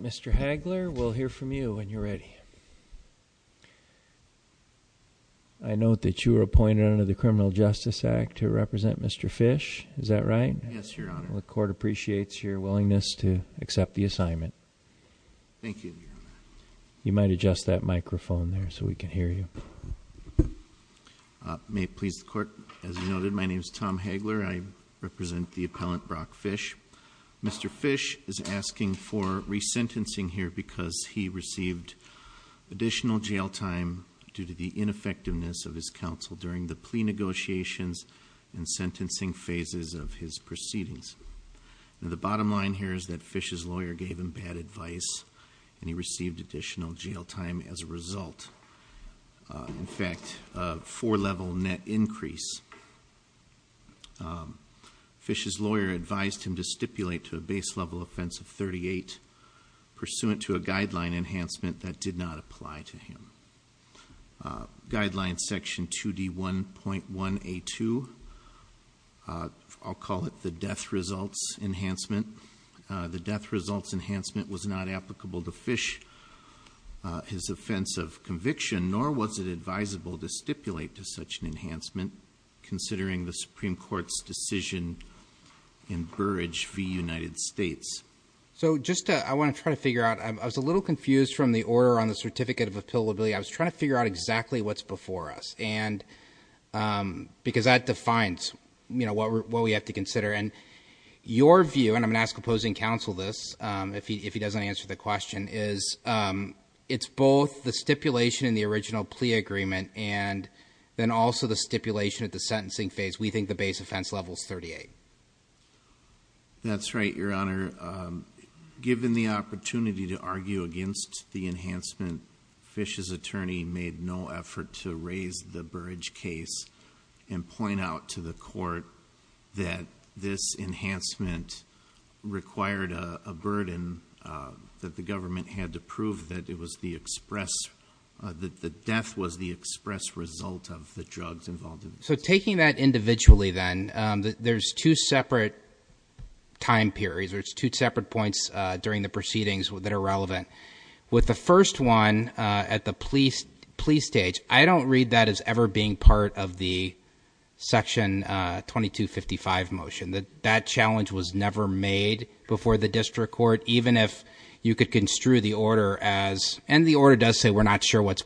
Mr. Hagler, we'll hear from you when you're ready. I note that you were appointed under the Criminal Justice Act to represent Mr. Fish, is that right? Yes, Your Honor. The court appreciates your willingness to accept the assignment. Thank you, Your Honor. You might adjust that microphone there so we can hear you. May it please the court, as noted, my name is Tom Hagler. I represent the appellant Brock Fish. Mr. Fish is asking for resentencing here because he received additional jail time due to the ineffectiveness of his counsel during the plea negotiations and sentencing phases of his proceedings. And the bottom line here is that Fish's lawyer gave him bad advice and he received additional jail time as a result. In fact, a four level net increase. Fish's lawyer advised him to stipulate to a base level offense of 38 pursuant to a guideline enhancement that did not apply to him. Guideline section 2D1.1A2, I'll call it the death results enhancement. The death results enhancement was not applicable to Fish, his offense of conviction, nor was it advisable to stipulate to such an enhancement considering the Supreme Court's decision in Burrage v. United States. So just, I want to try to figure out, I was a little confused from the order on the certificate of appellability. I was trying to figure out exactly what's before us. Your view, and I'm going to ask opposing counsel this if he doesn't answer the question, is it's both the stipulation in the original plea agreement and then also the stipulation at the sentencing phase. We think the base offense level is 38. That's right, Your Honor. Given the opportunity to argue against the enhancement, Fish's attorney made no effort to raise the Burrage case and point out to the court that this enhancement required a burden that the government had to prove that it was the express, that the death was the express result of the drugs involved in it. So taking that individually then, there's two separate time periods or it's two separate points during the proceedings that are relevant. With the first one at the plea stage, I don't read that as ever being part of the Section 2255 motion, that that challenge was never made before the district court. Even if you could construe the order as, and the order does say we're not sure what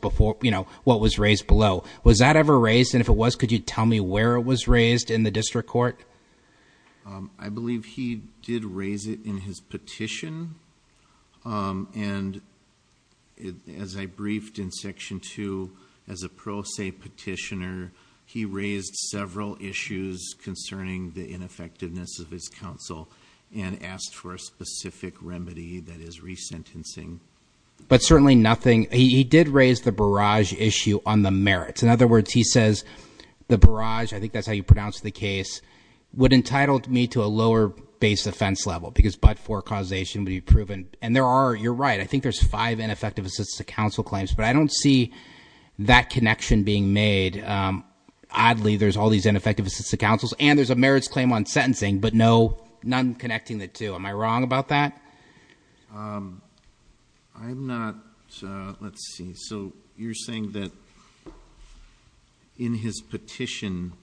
was raised below. Was that ever raised? And if it was, could you tell me where it was raised in the district court? I believe he did raise it in his petition. And as I briefed in section two, as a pro se petitioner, he raised several issues concerning the ineffectiveness of his counsel and asked for a specific remedy that is resentencing. But certainly nothing, he did raise the Burrage issue on the merits. In other words, he says the Burrage, I think that's how you pronounce the case, would entitle me to a lower base offense level because but for causation would be proven. And there are, you're right, I think there's five ineffective assists to counsel claims. But I don't see that connection being made. Oddly, there's all these ineffective assists to counsels, and there's a merits claim on sentencing, but no, none connecting the two. Am I wrong about that? I'm not, let's see. So you're saying that in his petition,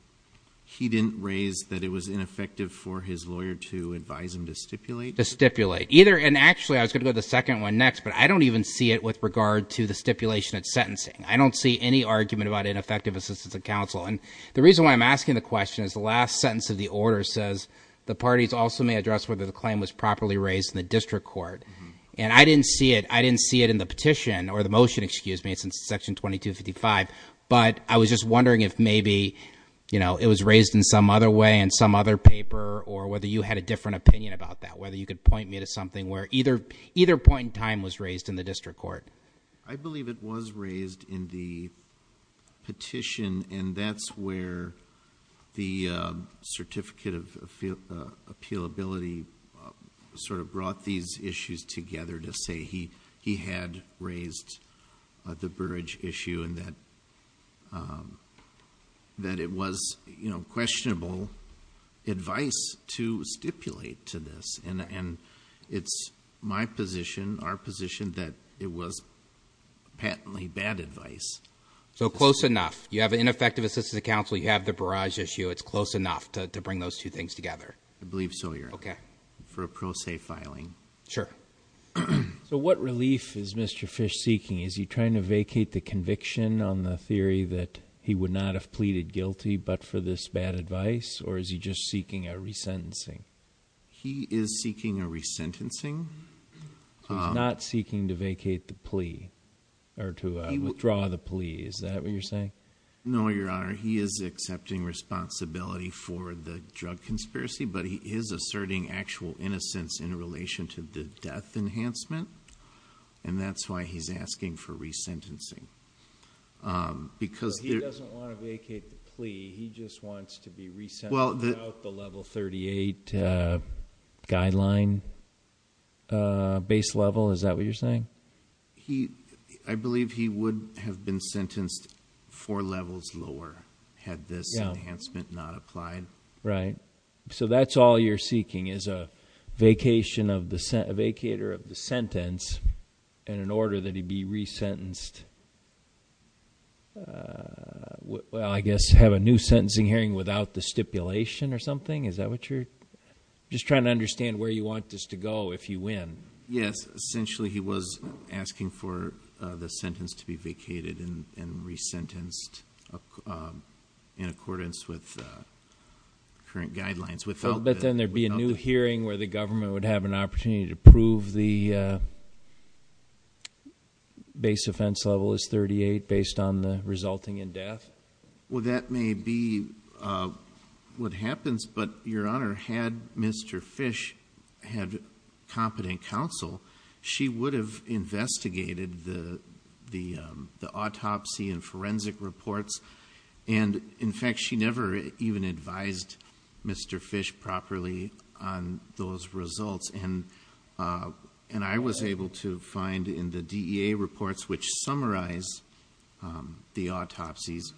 he didn't raise that it was ineffective for his lawyer to advise him to stipulate? To stipulate, either, and actually I was going to go to the second one next, but I don't even see it with regard to the stipulation at sentencing. I don't see any argument about ineffective assistance of counsel. And the reason why I'm asking the question is the last sentence of the order says the parties also may address whether the claim was properly raised in the district court. And I didn't see it, I didn't see it in the petition, or the motion, excuse me, it's in section 2255. But I was just wondering if maybe it was raised in some other way in some other paper or whether you had a different opinion about that, whether you could point me to something where either point in time was raised in the district court. I believe it was raised in the petition, and that's where the certificate of appealability sort of brought these issues together to say he had raised the Burridge issue and that it was questionable advice to stipulate to this. And it's my position, our position, that it was patently bad advice. So close enough. You have ineffective assistance of counsel, you have the Burridge issue, it's close enough to bring those two things together. I believe so, your honor. Okay. For a pro se filing. Sure. So what relief is Mr. Fish seeking? Is he trying to vacate the conviction on the theory that he would not have pleaded guilty but for this bad advice? Or is he just seeking a resentencing? He is seeking a resentencing. He's not seeking to vacate the plea, or to withdraw the plea, is that what you're saying? No, your honor, he is accepting responsibility for the drug conspiracy, but he is asserting actual innocence in relation to the death enhancement. And that's why he's asking for resentencing, because- He doesn't want to vacate the plea, he just wants to be resent without the level 38 guideline base level, is that what you're saying? He, I believe he would have been sentenced four levels lower had this enhancement not applied. Right, so that's all you're seeking, is a vacator of the sentence, and an order that he be resentenced. Well, I guess have a new sentencing hearing without the stipulation or something, is that what you're, just trying to understand where you want this to go if you win. Yes, essentially he was asking for the sentence to be vacated and then resentenced in accordance with current guidelines without- But then there'd be a new hearing where the government would have an opportunity to prove the base offense level is 38 based on the resulting in death? Well, that may be what happens, but your honor, had Mr. Fish had competent counsel, she would have investigated the autopsy and forensic reports. And in fact, she never even advised Mr. Fish properly on those results. And I was able to find in the DEA reports, which summarize the autopsies,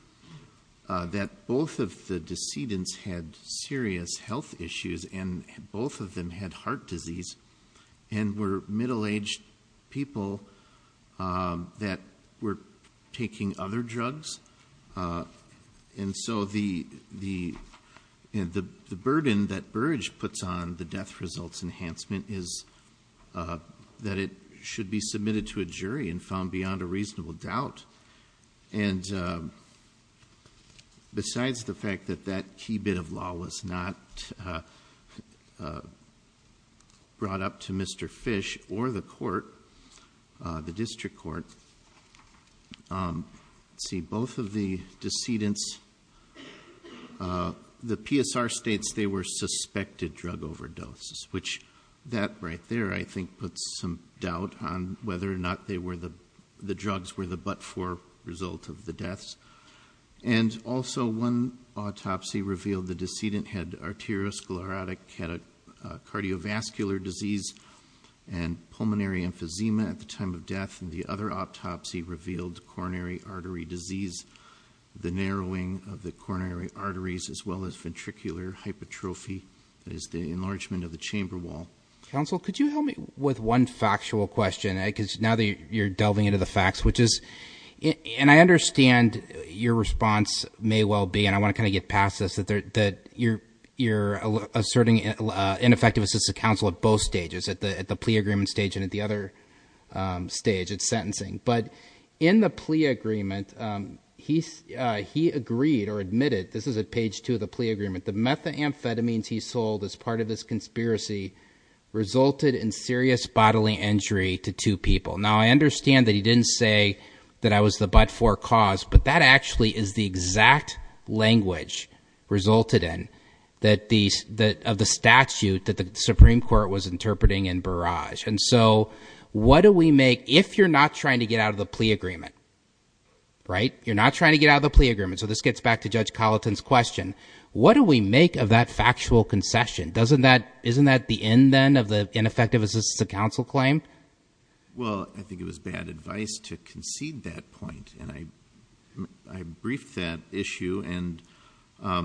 that both of the decedents had serious health issues. And both of them had heart disease and were middle-aged people that were taking other drugs. And so the burden that Burrage puts on the death results enhancement is that it should be submitted to a jury and found beyond a reasonable doubt. And besides the fact that that key bit of law was not brought up to Mr. Fish or the court, the district court. See, both of the decedents, the PSR states they were suspected drug overdoses, which that right there, I think, puts some doubt on whether or not the drugs were the but-for result of the deaths. And also, one autopsy revealed the decedent had arteriosclerotic, had a cardiovascular disease and pulmonary emphysema at the time of death. And the other autopsy revealed coronary artery disease, the narrowing of the coronary arteries as well as ventricular hypertrophy. That is the enlargement of the chamber wall. Counsel, could you help me with one factual question? because now that you're delving into the facts, which is, and I understand your response may well be, and I want to kind of get past this, that you're asserting ineffective assistive counsel at both stages. At the plea agreement stage and at the other stage, it's sentencing. But in the plea agreement, he agreed or admitted, this is at page two of the plea agreement, that the methamphetamines he sold as part of his conspiracy resulted in serious bodily injury to two people. Now I understand that he didn't say that I was the but-for cause, but that actually is the exact language resulted in that of the statute that the Supreme Court was interpreting in Barrage. And so, what do we make, if you're not trying to get out of the plea agreement, right? You're not trying to get out of the plea agreement. So this gets back to Judge Colleton's question. What do we make of that factual concession? Doesn't that, isn't that the end then of the ineffective assistive counsel claim? Well, I think it was bad advice to concede that point. And I briefed that issue, and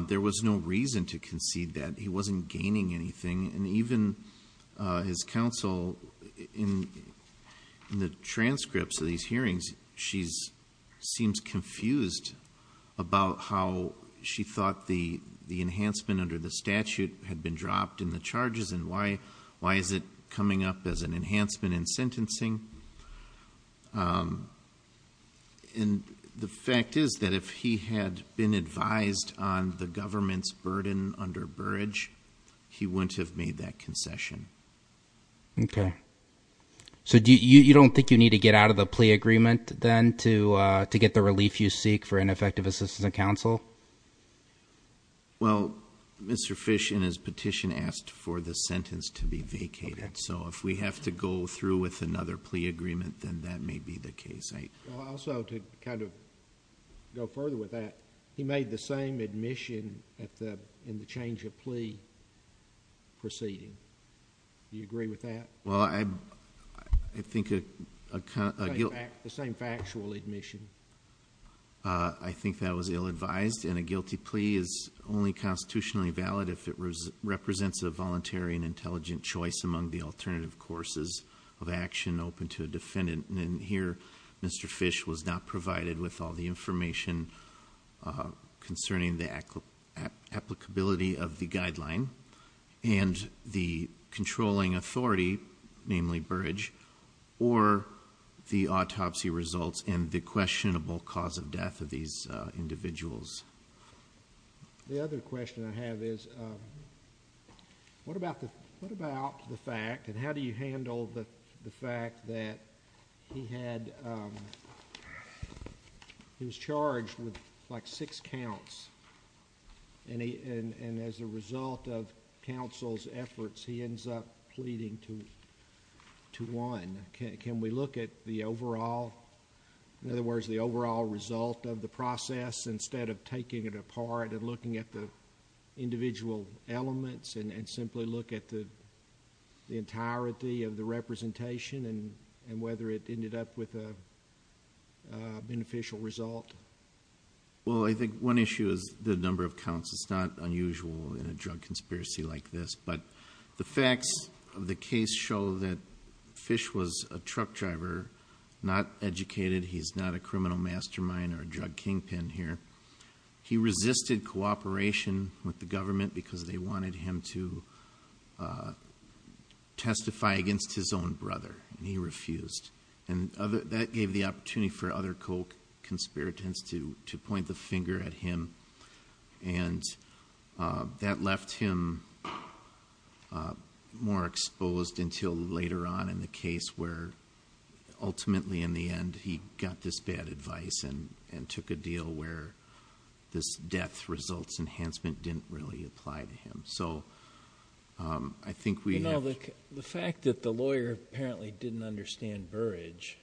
there was no reason to concede that. He wasn't gaining anything. And even his counsel, in the transcripts of these hearings, she seems confused about how she thought the enhancement under the statute had been dropped in the charges, and why is it coming up as an enhancement in sentencing? And the fact is that if he had been advised on the government's burden under Barrage, he wouldn't have made that concession. Okay. So, you don't think you need to get out of the plea agreement, then, to get the relief you seek for ineffective assistive counsel? Well, Mr. Fish, in his petition, asked for the sentence to be vacated. So, if we have to go through with another plea agreement, then that may be the case. Also, to kind of go further with that, he made the same admission in the change of plea proceeding. Do you agree with that? Well, I think a guilty- The same factual admission. I think that was ill-advised, and a guilty plea is only constitutionally valid if it represents a voluntary and intelligent choice among the alternative courses of action open to a defendant. And here, Mr. Fish was not provided with all the information concerning the applicability of the guideline and the controlling authority, namely Barrage, or the autopsy results and the questionable cause of death of these individuals. The other question I have is, what about the fact, and how do you handle the fact that he was charged with like six counts? And as a result of counsel's efforts, he ends up pleading to one. Can we look at the overall, in other words, the overall result of the process, instead of taking it apart and looking at the individual elements and simply look at the entirety of the representation and whether it ended up with a beneficial result? Well, I think one issue is the number of counts. It's not unusual in a drug conspiracy like this, but the facts of the case show that Fish was a truck driver, not educated. He's not a criminal mastermind or a drug kingpin here. He resisted cooperation with the government because they wanted him to testify against his own brother, and he refused. And that gave the opportunity for other co-conspirators to point the finger at him. And that left him more exposed until later on in the case where, ultimately in the end, he got this bad advice and took a deal where this death results enhancement didn't really apply to him. So I think we have- You know, the fact that the lawyer apparently didn't understand Burrage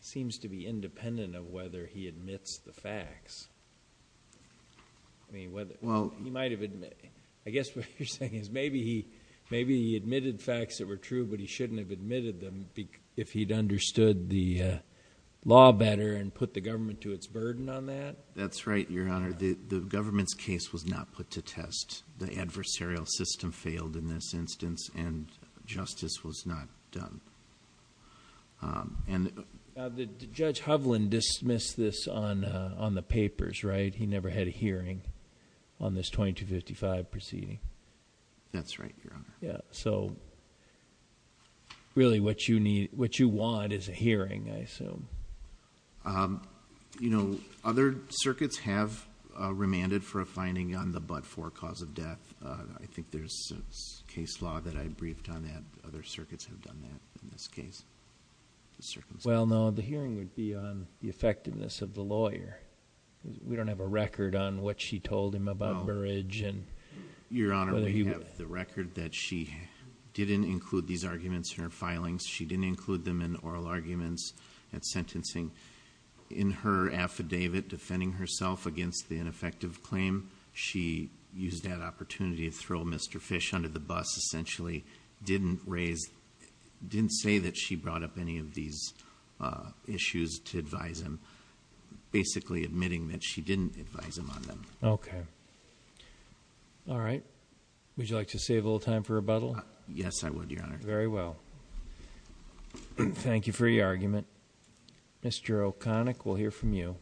seems to be independent of whether he admits the facts. I mean, whether- Well- He might have admitted. I guess what you're saying is maybe he admitted facts that were true, but he shouldn't have admitted them if he'd understood the law better and put the government to its burden on that? That's right, Your Honor. The government's case was not put to test. The adversarial system failed in this instance, and justice was not done. And- Judge Hovland dismissed this on the papers, right? He never had a hearing on this 2255 proceeding. That's right, Your Honor. Yeah, so really what you want is a hearing, I assume. You know, other circuits have remanded for a finding on the but-for cause of death. I think there's a case law that I briefed on that. Other circuits have done that in this case. Well, no, the hearing would be on the effectiveness of the lawyer. We don't have a record on what she told him about Burridge and whether he- No, Your Honor, we have the record that she didn't include these arguments in her filings. She didn't include them in oral arguments at sentencing. In her affidavit defending herself against the ineffective claim, she used that opportunity to throw Mr. Fish under the bus, essentially, didn't say that she brought up any of these issues to advise him. Basically, admitting that she didn't advise him on them. Okay, all right, would you like to save a little time for rebuttal? Yes, I would, Your Honor. Very well, thank you for your argument. Mr. O'Connick, we'll hear from you.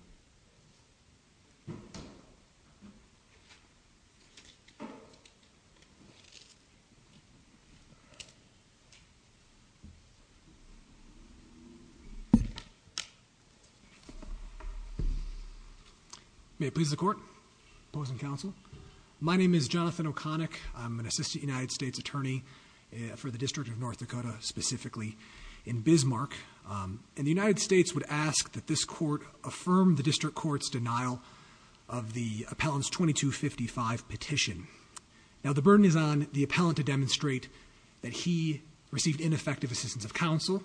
May it please the court, opposing counsel. My name is Jonathan O'Connick. I'm an assistant United States attorney for the District of North Dakota, specifically in Bismarck. And the United States would ask that this court affirm the district court's denial of the appellant's 2255 petition. Now, the burden is on the appellant to demonstrate that he received ineffective assistance of counsel.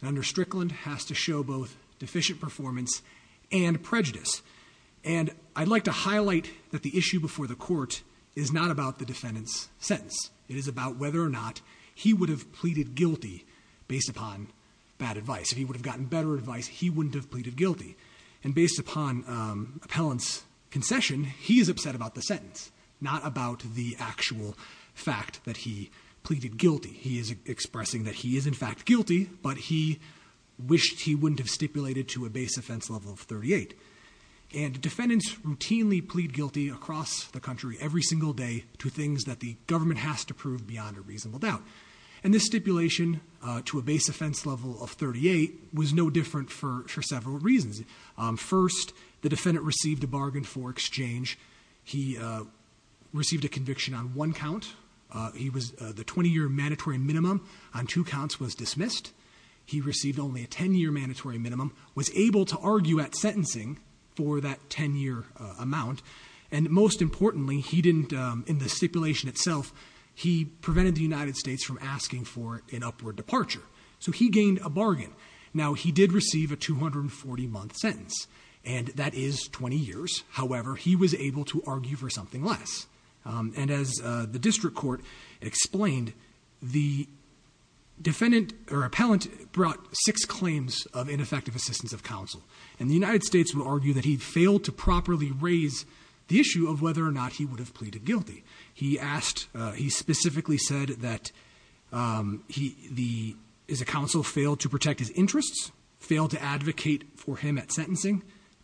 And under Strickland, has to show both deficient performance and prejudice. And I'd like to highlight that the issue before the court is not about the defendant's sentence. It is about whether or not he would have pleaded guilty based upon bad advice. If he would have gotten better advice, he wouldn't have pleaded guilty. And based upon appellant's concession, he is upset about the sentence, not about the actual fact that he pleaded guilty. He is expressing that he is in fact guilty, but he wished he wouldn't have stipulated to a base offense level of 38. And defendants routinely plead guilty across the country every single day to things that the government has to prove beyond a reasonable doubt. And this stipulation to a base offense level of 38 was no different for several reasons. First, the defendant received a bargain for exchange. He received a conviction on one count. He was, the 20 year mandatory minimum on two counts was dismissed. He received only a 10 year mandatory minimum, was able to argue at sentencing for that 10 year amount. And most importantly, he didn't, in the stipulation itself, he prevented the United States from asking for an upward departure. So he gained a bargain. Now he did receive a 240 month sentence, and that is 20 years. However, he was able to argue for something less. And as the district court explained, the defendant or appellant brought six claims of ineffective assistance of counsel. And the United States would argue that he failed to properly raise the issue of whether or not he would have pleaded guilty. He asked, he specifically said that, is the counsel failed to protect his interests? Failed to advocate for him at sentencing?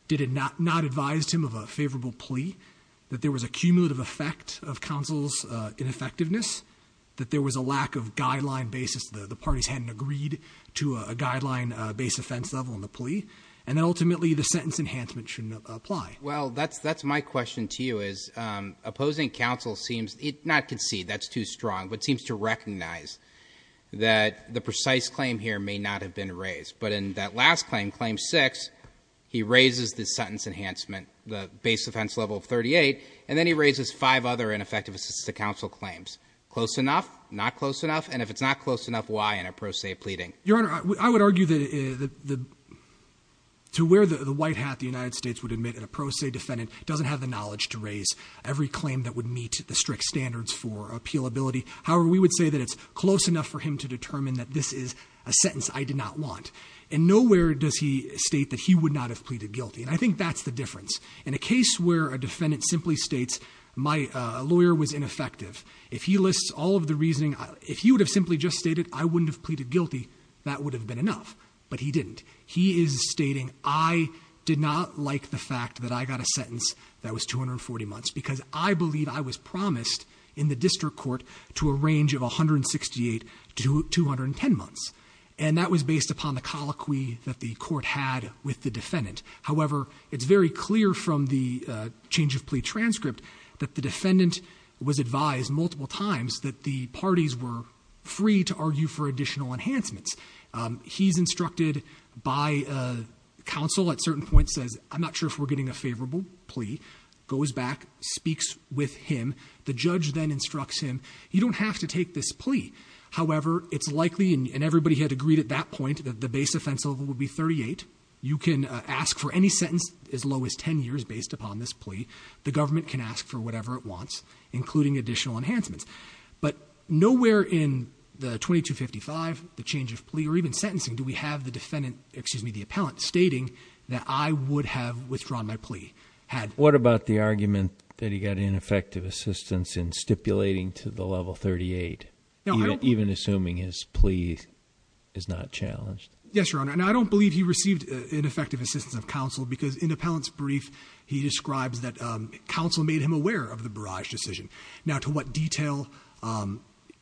Did it not advise him of a favorable plea? That there was a cumulative effect of counsel's ineffectiveness? That there was a lack of guideline basis, the parties hadn't agreed to a guideline based offense level in the plea? And then ultimately, the sentence enhancement shouldn't apply. Well, that's my question to you is, opposing counsel seems, not concede, that's too strong. But seems to recognize that the precise claim here may not have been raised. But in that last claim, claim six, he raises the sentence enhancement, the base offense level of 38. And then he raises five other ineffective assistance to counsel claims. Close enough? Not close enough? And if it's not close enough, why in a pro se pleading? Your Honor, I would argue that to wear the white hat the United States would admit in a pro se defendant doesn't have the knowledge to raise every claim that would meet the strict standards for appealability. However, we would say that it's close enough for him to determine that this is a sentence I did not want. And nowhere does he state that he would not have pleaded guilty, and I think that's the difference. In a case where a defendant simply states, my lawyer was ineffective. If he lists all of the reasoning, if he would have simply just stated, I wouldn't have pleaded guilty, that would have been enough. But he didn't. He is stating, I did not like the fact that I got a sentence that was 240 months. Because I believe I was promised in the district court to a range of 168 to 210 months. And that was based upon the colloquy that the court had with the defendant. However, it's very clear from the change of plea transcript that the defendant was advised multiple times that the parties were free to argue for additional enhancements. He's instructed by counsel at certain points says, I'm not sure if we're getting a favorable plea. Goes back, speaks with him. The judge then instructs him, you don't have to take this plea. However, it's likely, and everybody had agreed at that point, that the base offense level would be 38. You can ask for any sentence as low as ten years based upon this plea. The government can ask for whatever it wants, including additional enhancements. But nowhere in the 2255, the change of plea, or even sentencing, do we have the defendant, excuse me, the appellant, stating that I would have withdrawn my plea. What about the argument that he got ineffective assistance in stipulating to the level 38? Even assuming his plea is not challenged. Yes, your honor. And I don't believe he received ineffective assistance of counsel because in the appellant's brief, he describes that counsel made him aware of the barrage decision. Now to what detail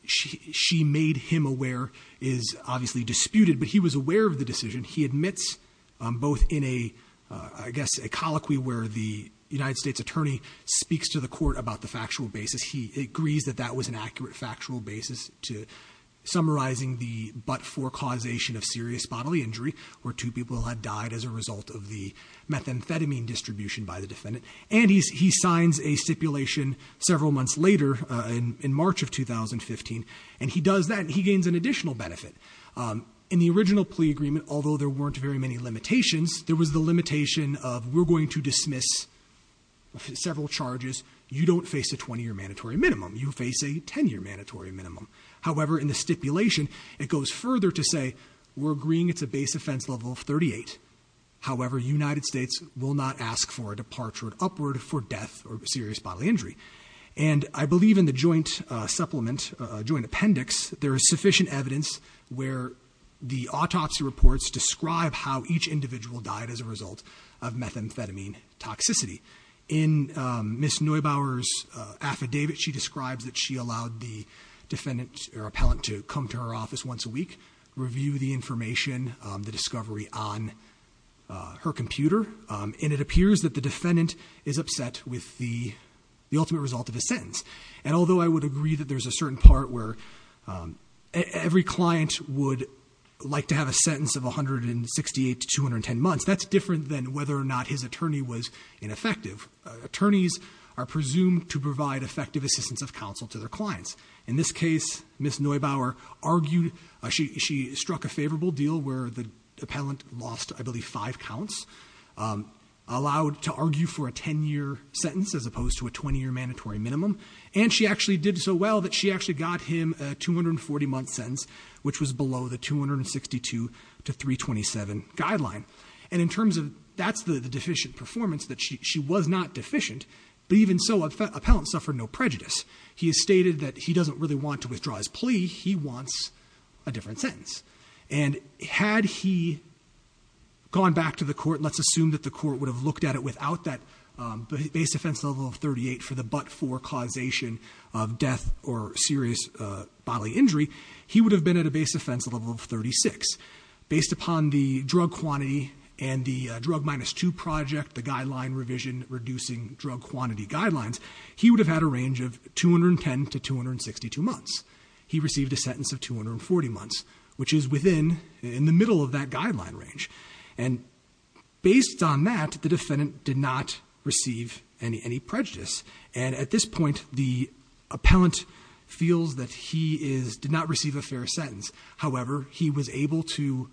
she made him aware is obviously disputed. But he was aware of the decision. He admits both in a, I guess, a colloquy where the United States attorney speaks to the court about the factual basis. He agrees that that was an accurate factual basis to summarizing the but for causation of serious bodily injury, where two people had died as a result of the methamphetamine distribution by the defendant. And he signs a stipulation several months later in March of 2015, and he does that, and he gains an additional benefit. In the original plea agreement, although there weren't very many limitations, there was the limitation of we're going to dismiss several charges. You don't face a 20 year mandatory minimum, you face a 10 year mandatory minimum. However, in the stipulation, it goes further to say, we're agreeing it's a base offense level of 38. However, United States will not ask for a departure upward for death or serious bodily injury. And I believe in the joint supplement, joint appendix, there is sufficient evidence where the autopsy reports describe how each individual died as a result of methamphetamine toxicity. In Ms. Neubauer's affidavit, she describes that she allowed the defendant or appellant to come to her office once a week, review the information, the discovery on her computer. And it appears that the defendant is upset with the ultimate result of the sentence. And although I would agree that there's a certain part where every client would like to have a sentence of 168 to 210 months. That's different than whether or not his attorney was ineffective. Attorneys are presumed to provide effective assistance of counsel to their clients. In this case, Ms. Neubauer argued, she struck a favorable deal where the appellant lost, I believe, five counts. Allowed to argue for a ten year sentence as opposed to a 20 year mandatory minimum. And she actually did so well that she actually got him a 240 month sentence, which was below the 262 to 327 guideline. And in terms of, that's the deficient performance, that she was not deficient, but even so, appellant suffered no prejudice. He has stated that he doesn't really want to withdraw his plea, he wants a different sentence. And had he gone back to the court, let's assume that the court would have looked at it without that base offense level of 38 for the but-for causation of death or serious bodily injury, he would have been at a base offense level of 36. Based upon the drug quantity and the drug minus two project, the guideline revision reducing drug quantity guidelines, he would have had a range of 210 to 262 months. He received a sentence of 240 months, which is within, in the middle of that guideline range. And based on that, the defendant did not receive any prejudice. And at this point, the appellant feels that he did not receive a fair sentence. However, he was able to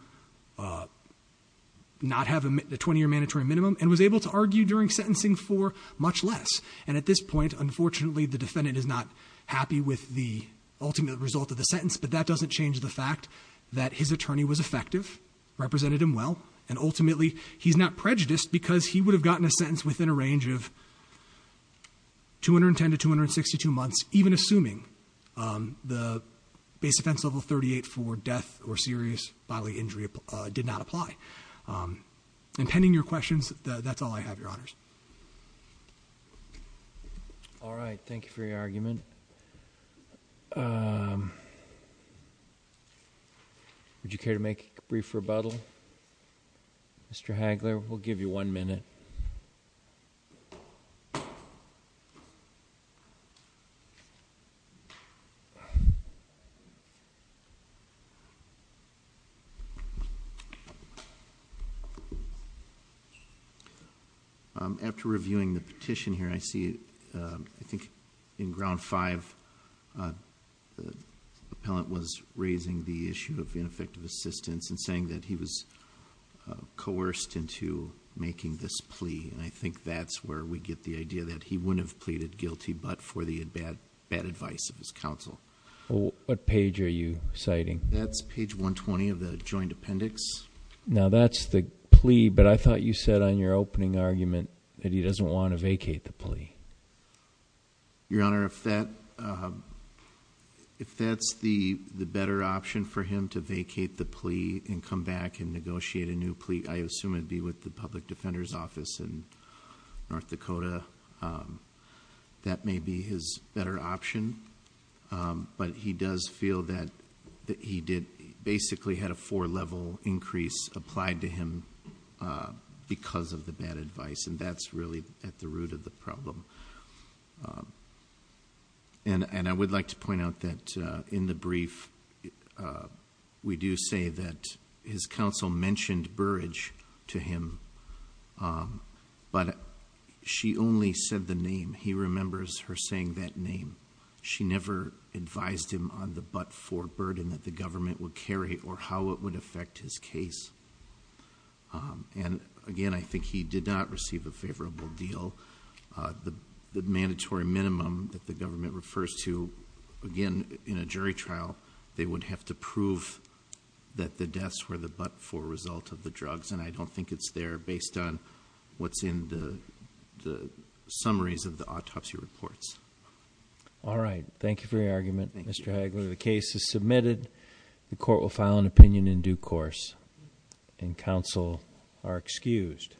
not have the 20 year mandatory minimum and was able to argue during sentencing for much less. And at this point, unfortunately, the defendant is not happy with the ultimate result of the sentence, but that doesn't change the fact that his attorney was effective, represented him well. And ultimately, he's not prejudiced because he would have gotten a sentence within a range of 210 to 262 months, even assuming the base offense level 38 for death or serious bodily injury did not apply. And pending your questions, that's all I have, your honors. All right, thank you for your argument. Would you care to make a brief rebuttal? Mr. Hagler, we'll give you one minute. After reviewing the petition here I see I think in ground five, the appellant was raising the issue of ineffective assistance and saying that he was coerced into making this plea, and I think that's where we get the idea. That he wouldn't have pleaded guilty but for the bad advice of his counsel. What page are you citing? That's page 120 of the joint appendix. Now that's the plea, but I thought you said on your opening argument that he doesn't want to vacate the plea. Your honor, if that's the better option for him to vacate the plea and come back and negotiate a new plea, I assume it would be with the public defender's office in North Dakota. That may be his better option, but he does feel that he did, basically had a four level increase applied to him because of the bad advice. And that's really at the root of the problem. And I would like to point out that in the brief, we do say that his counsel mentioned Burrage to him. But she only said the name, he remembers her saying that name. She never advised him on the but for burden that the government would carry or how it would affect his case. And again, I think he did not receive a favorable deal. The mandatory minimum that the government refers to, again, in a jury trial, they would have to prove that the deaths were the but for result of the drugs. And I don't think it's there based on what's in the summaries of the autopsy reports. All right, thank you for your argument, Mr. Hagler. The case is submitted. The court will file an opinion in due course. And counsel are excused. Thank you.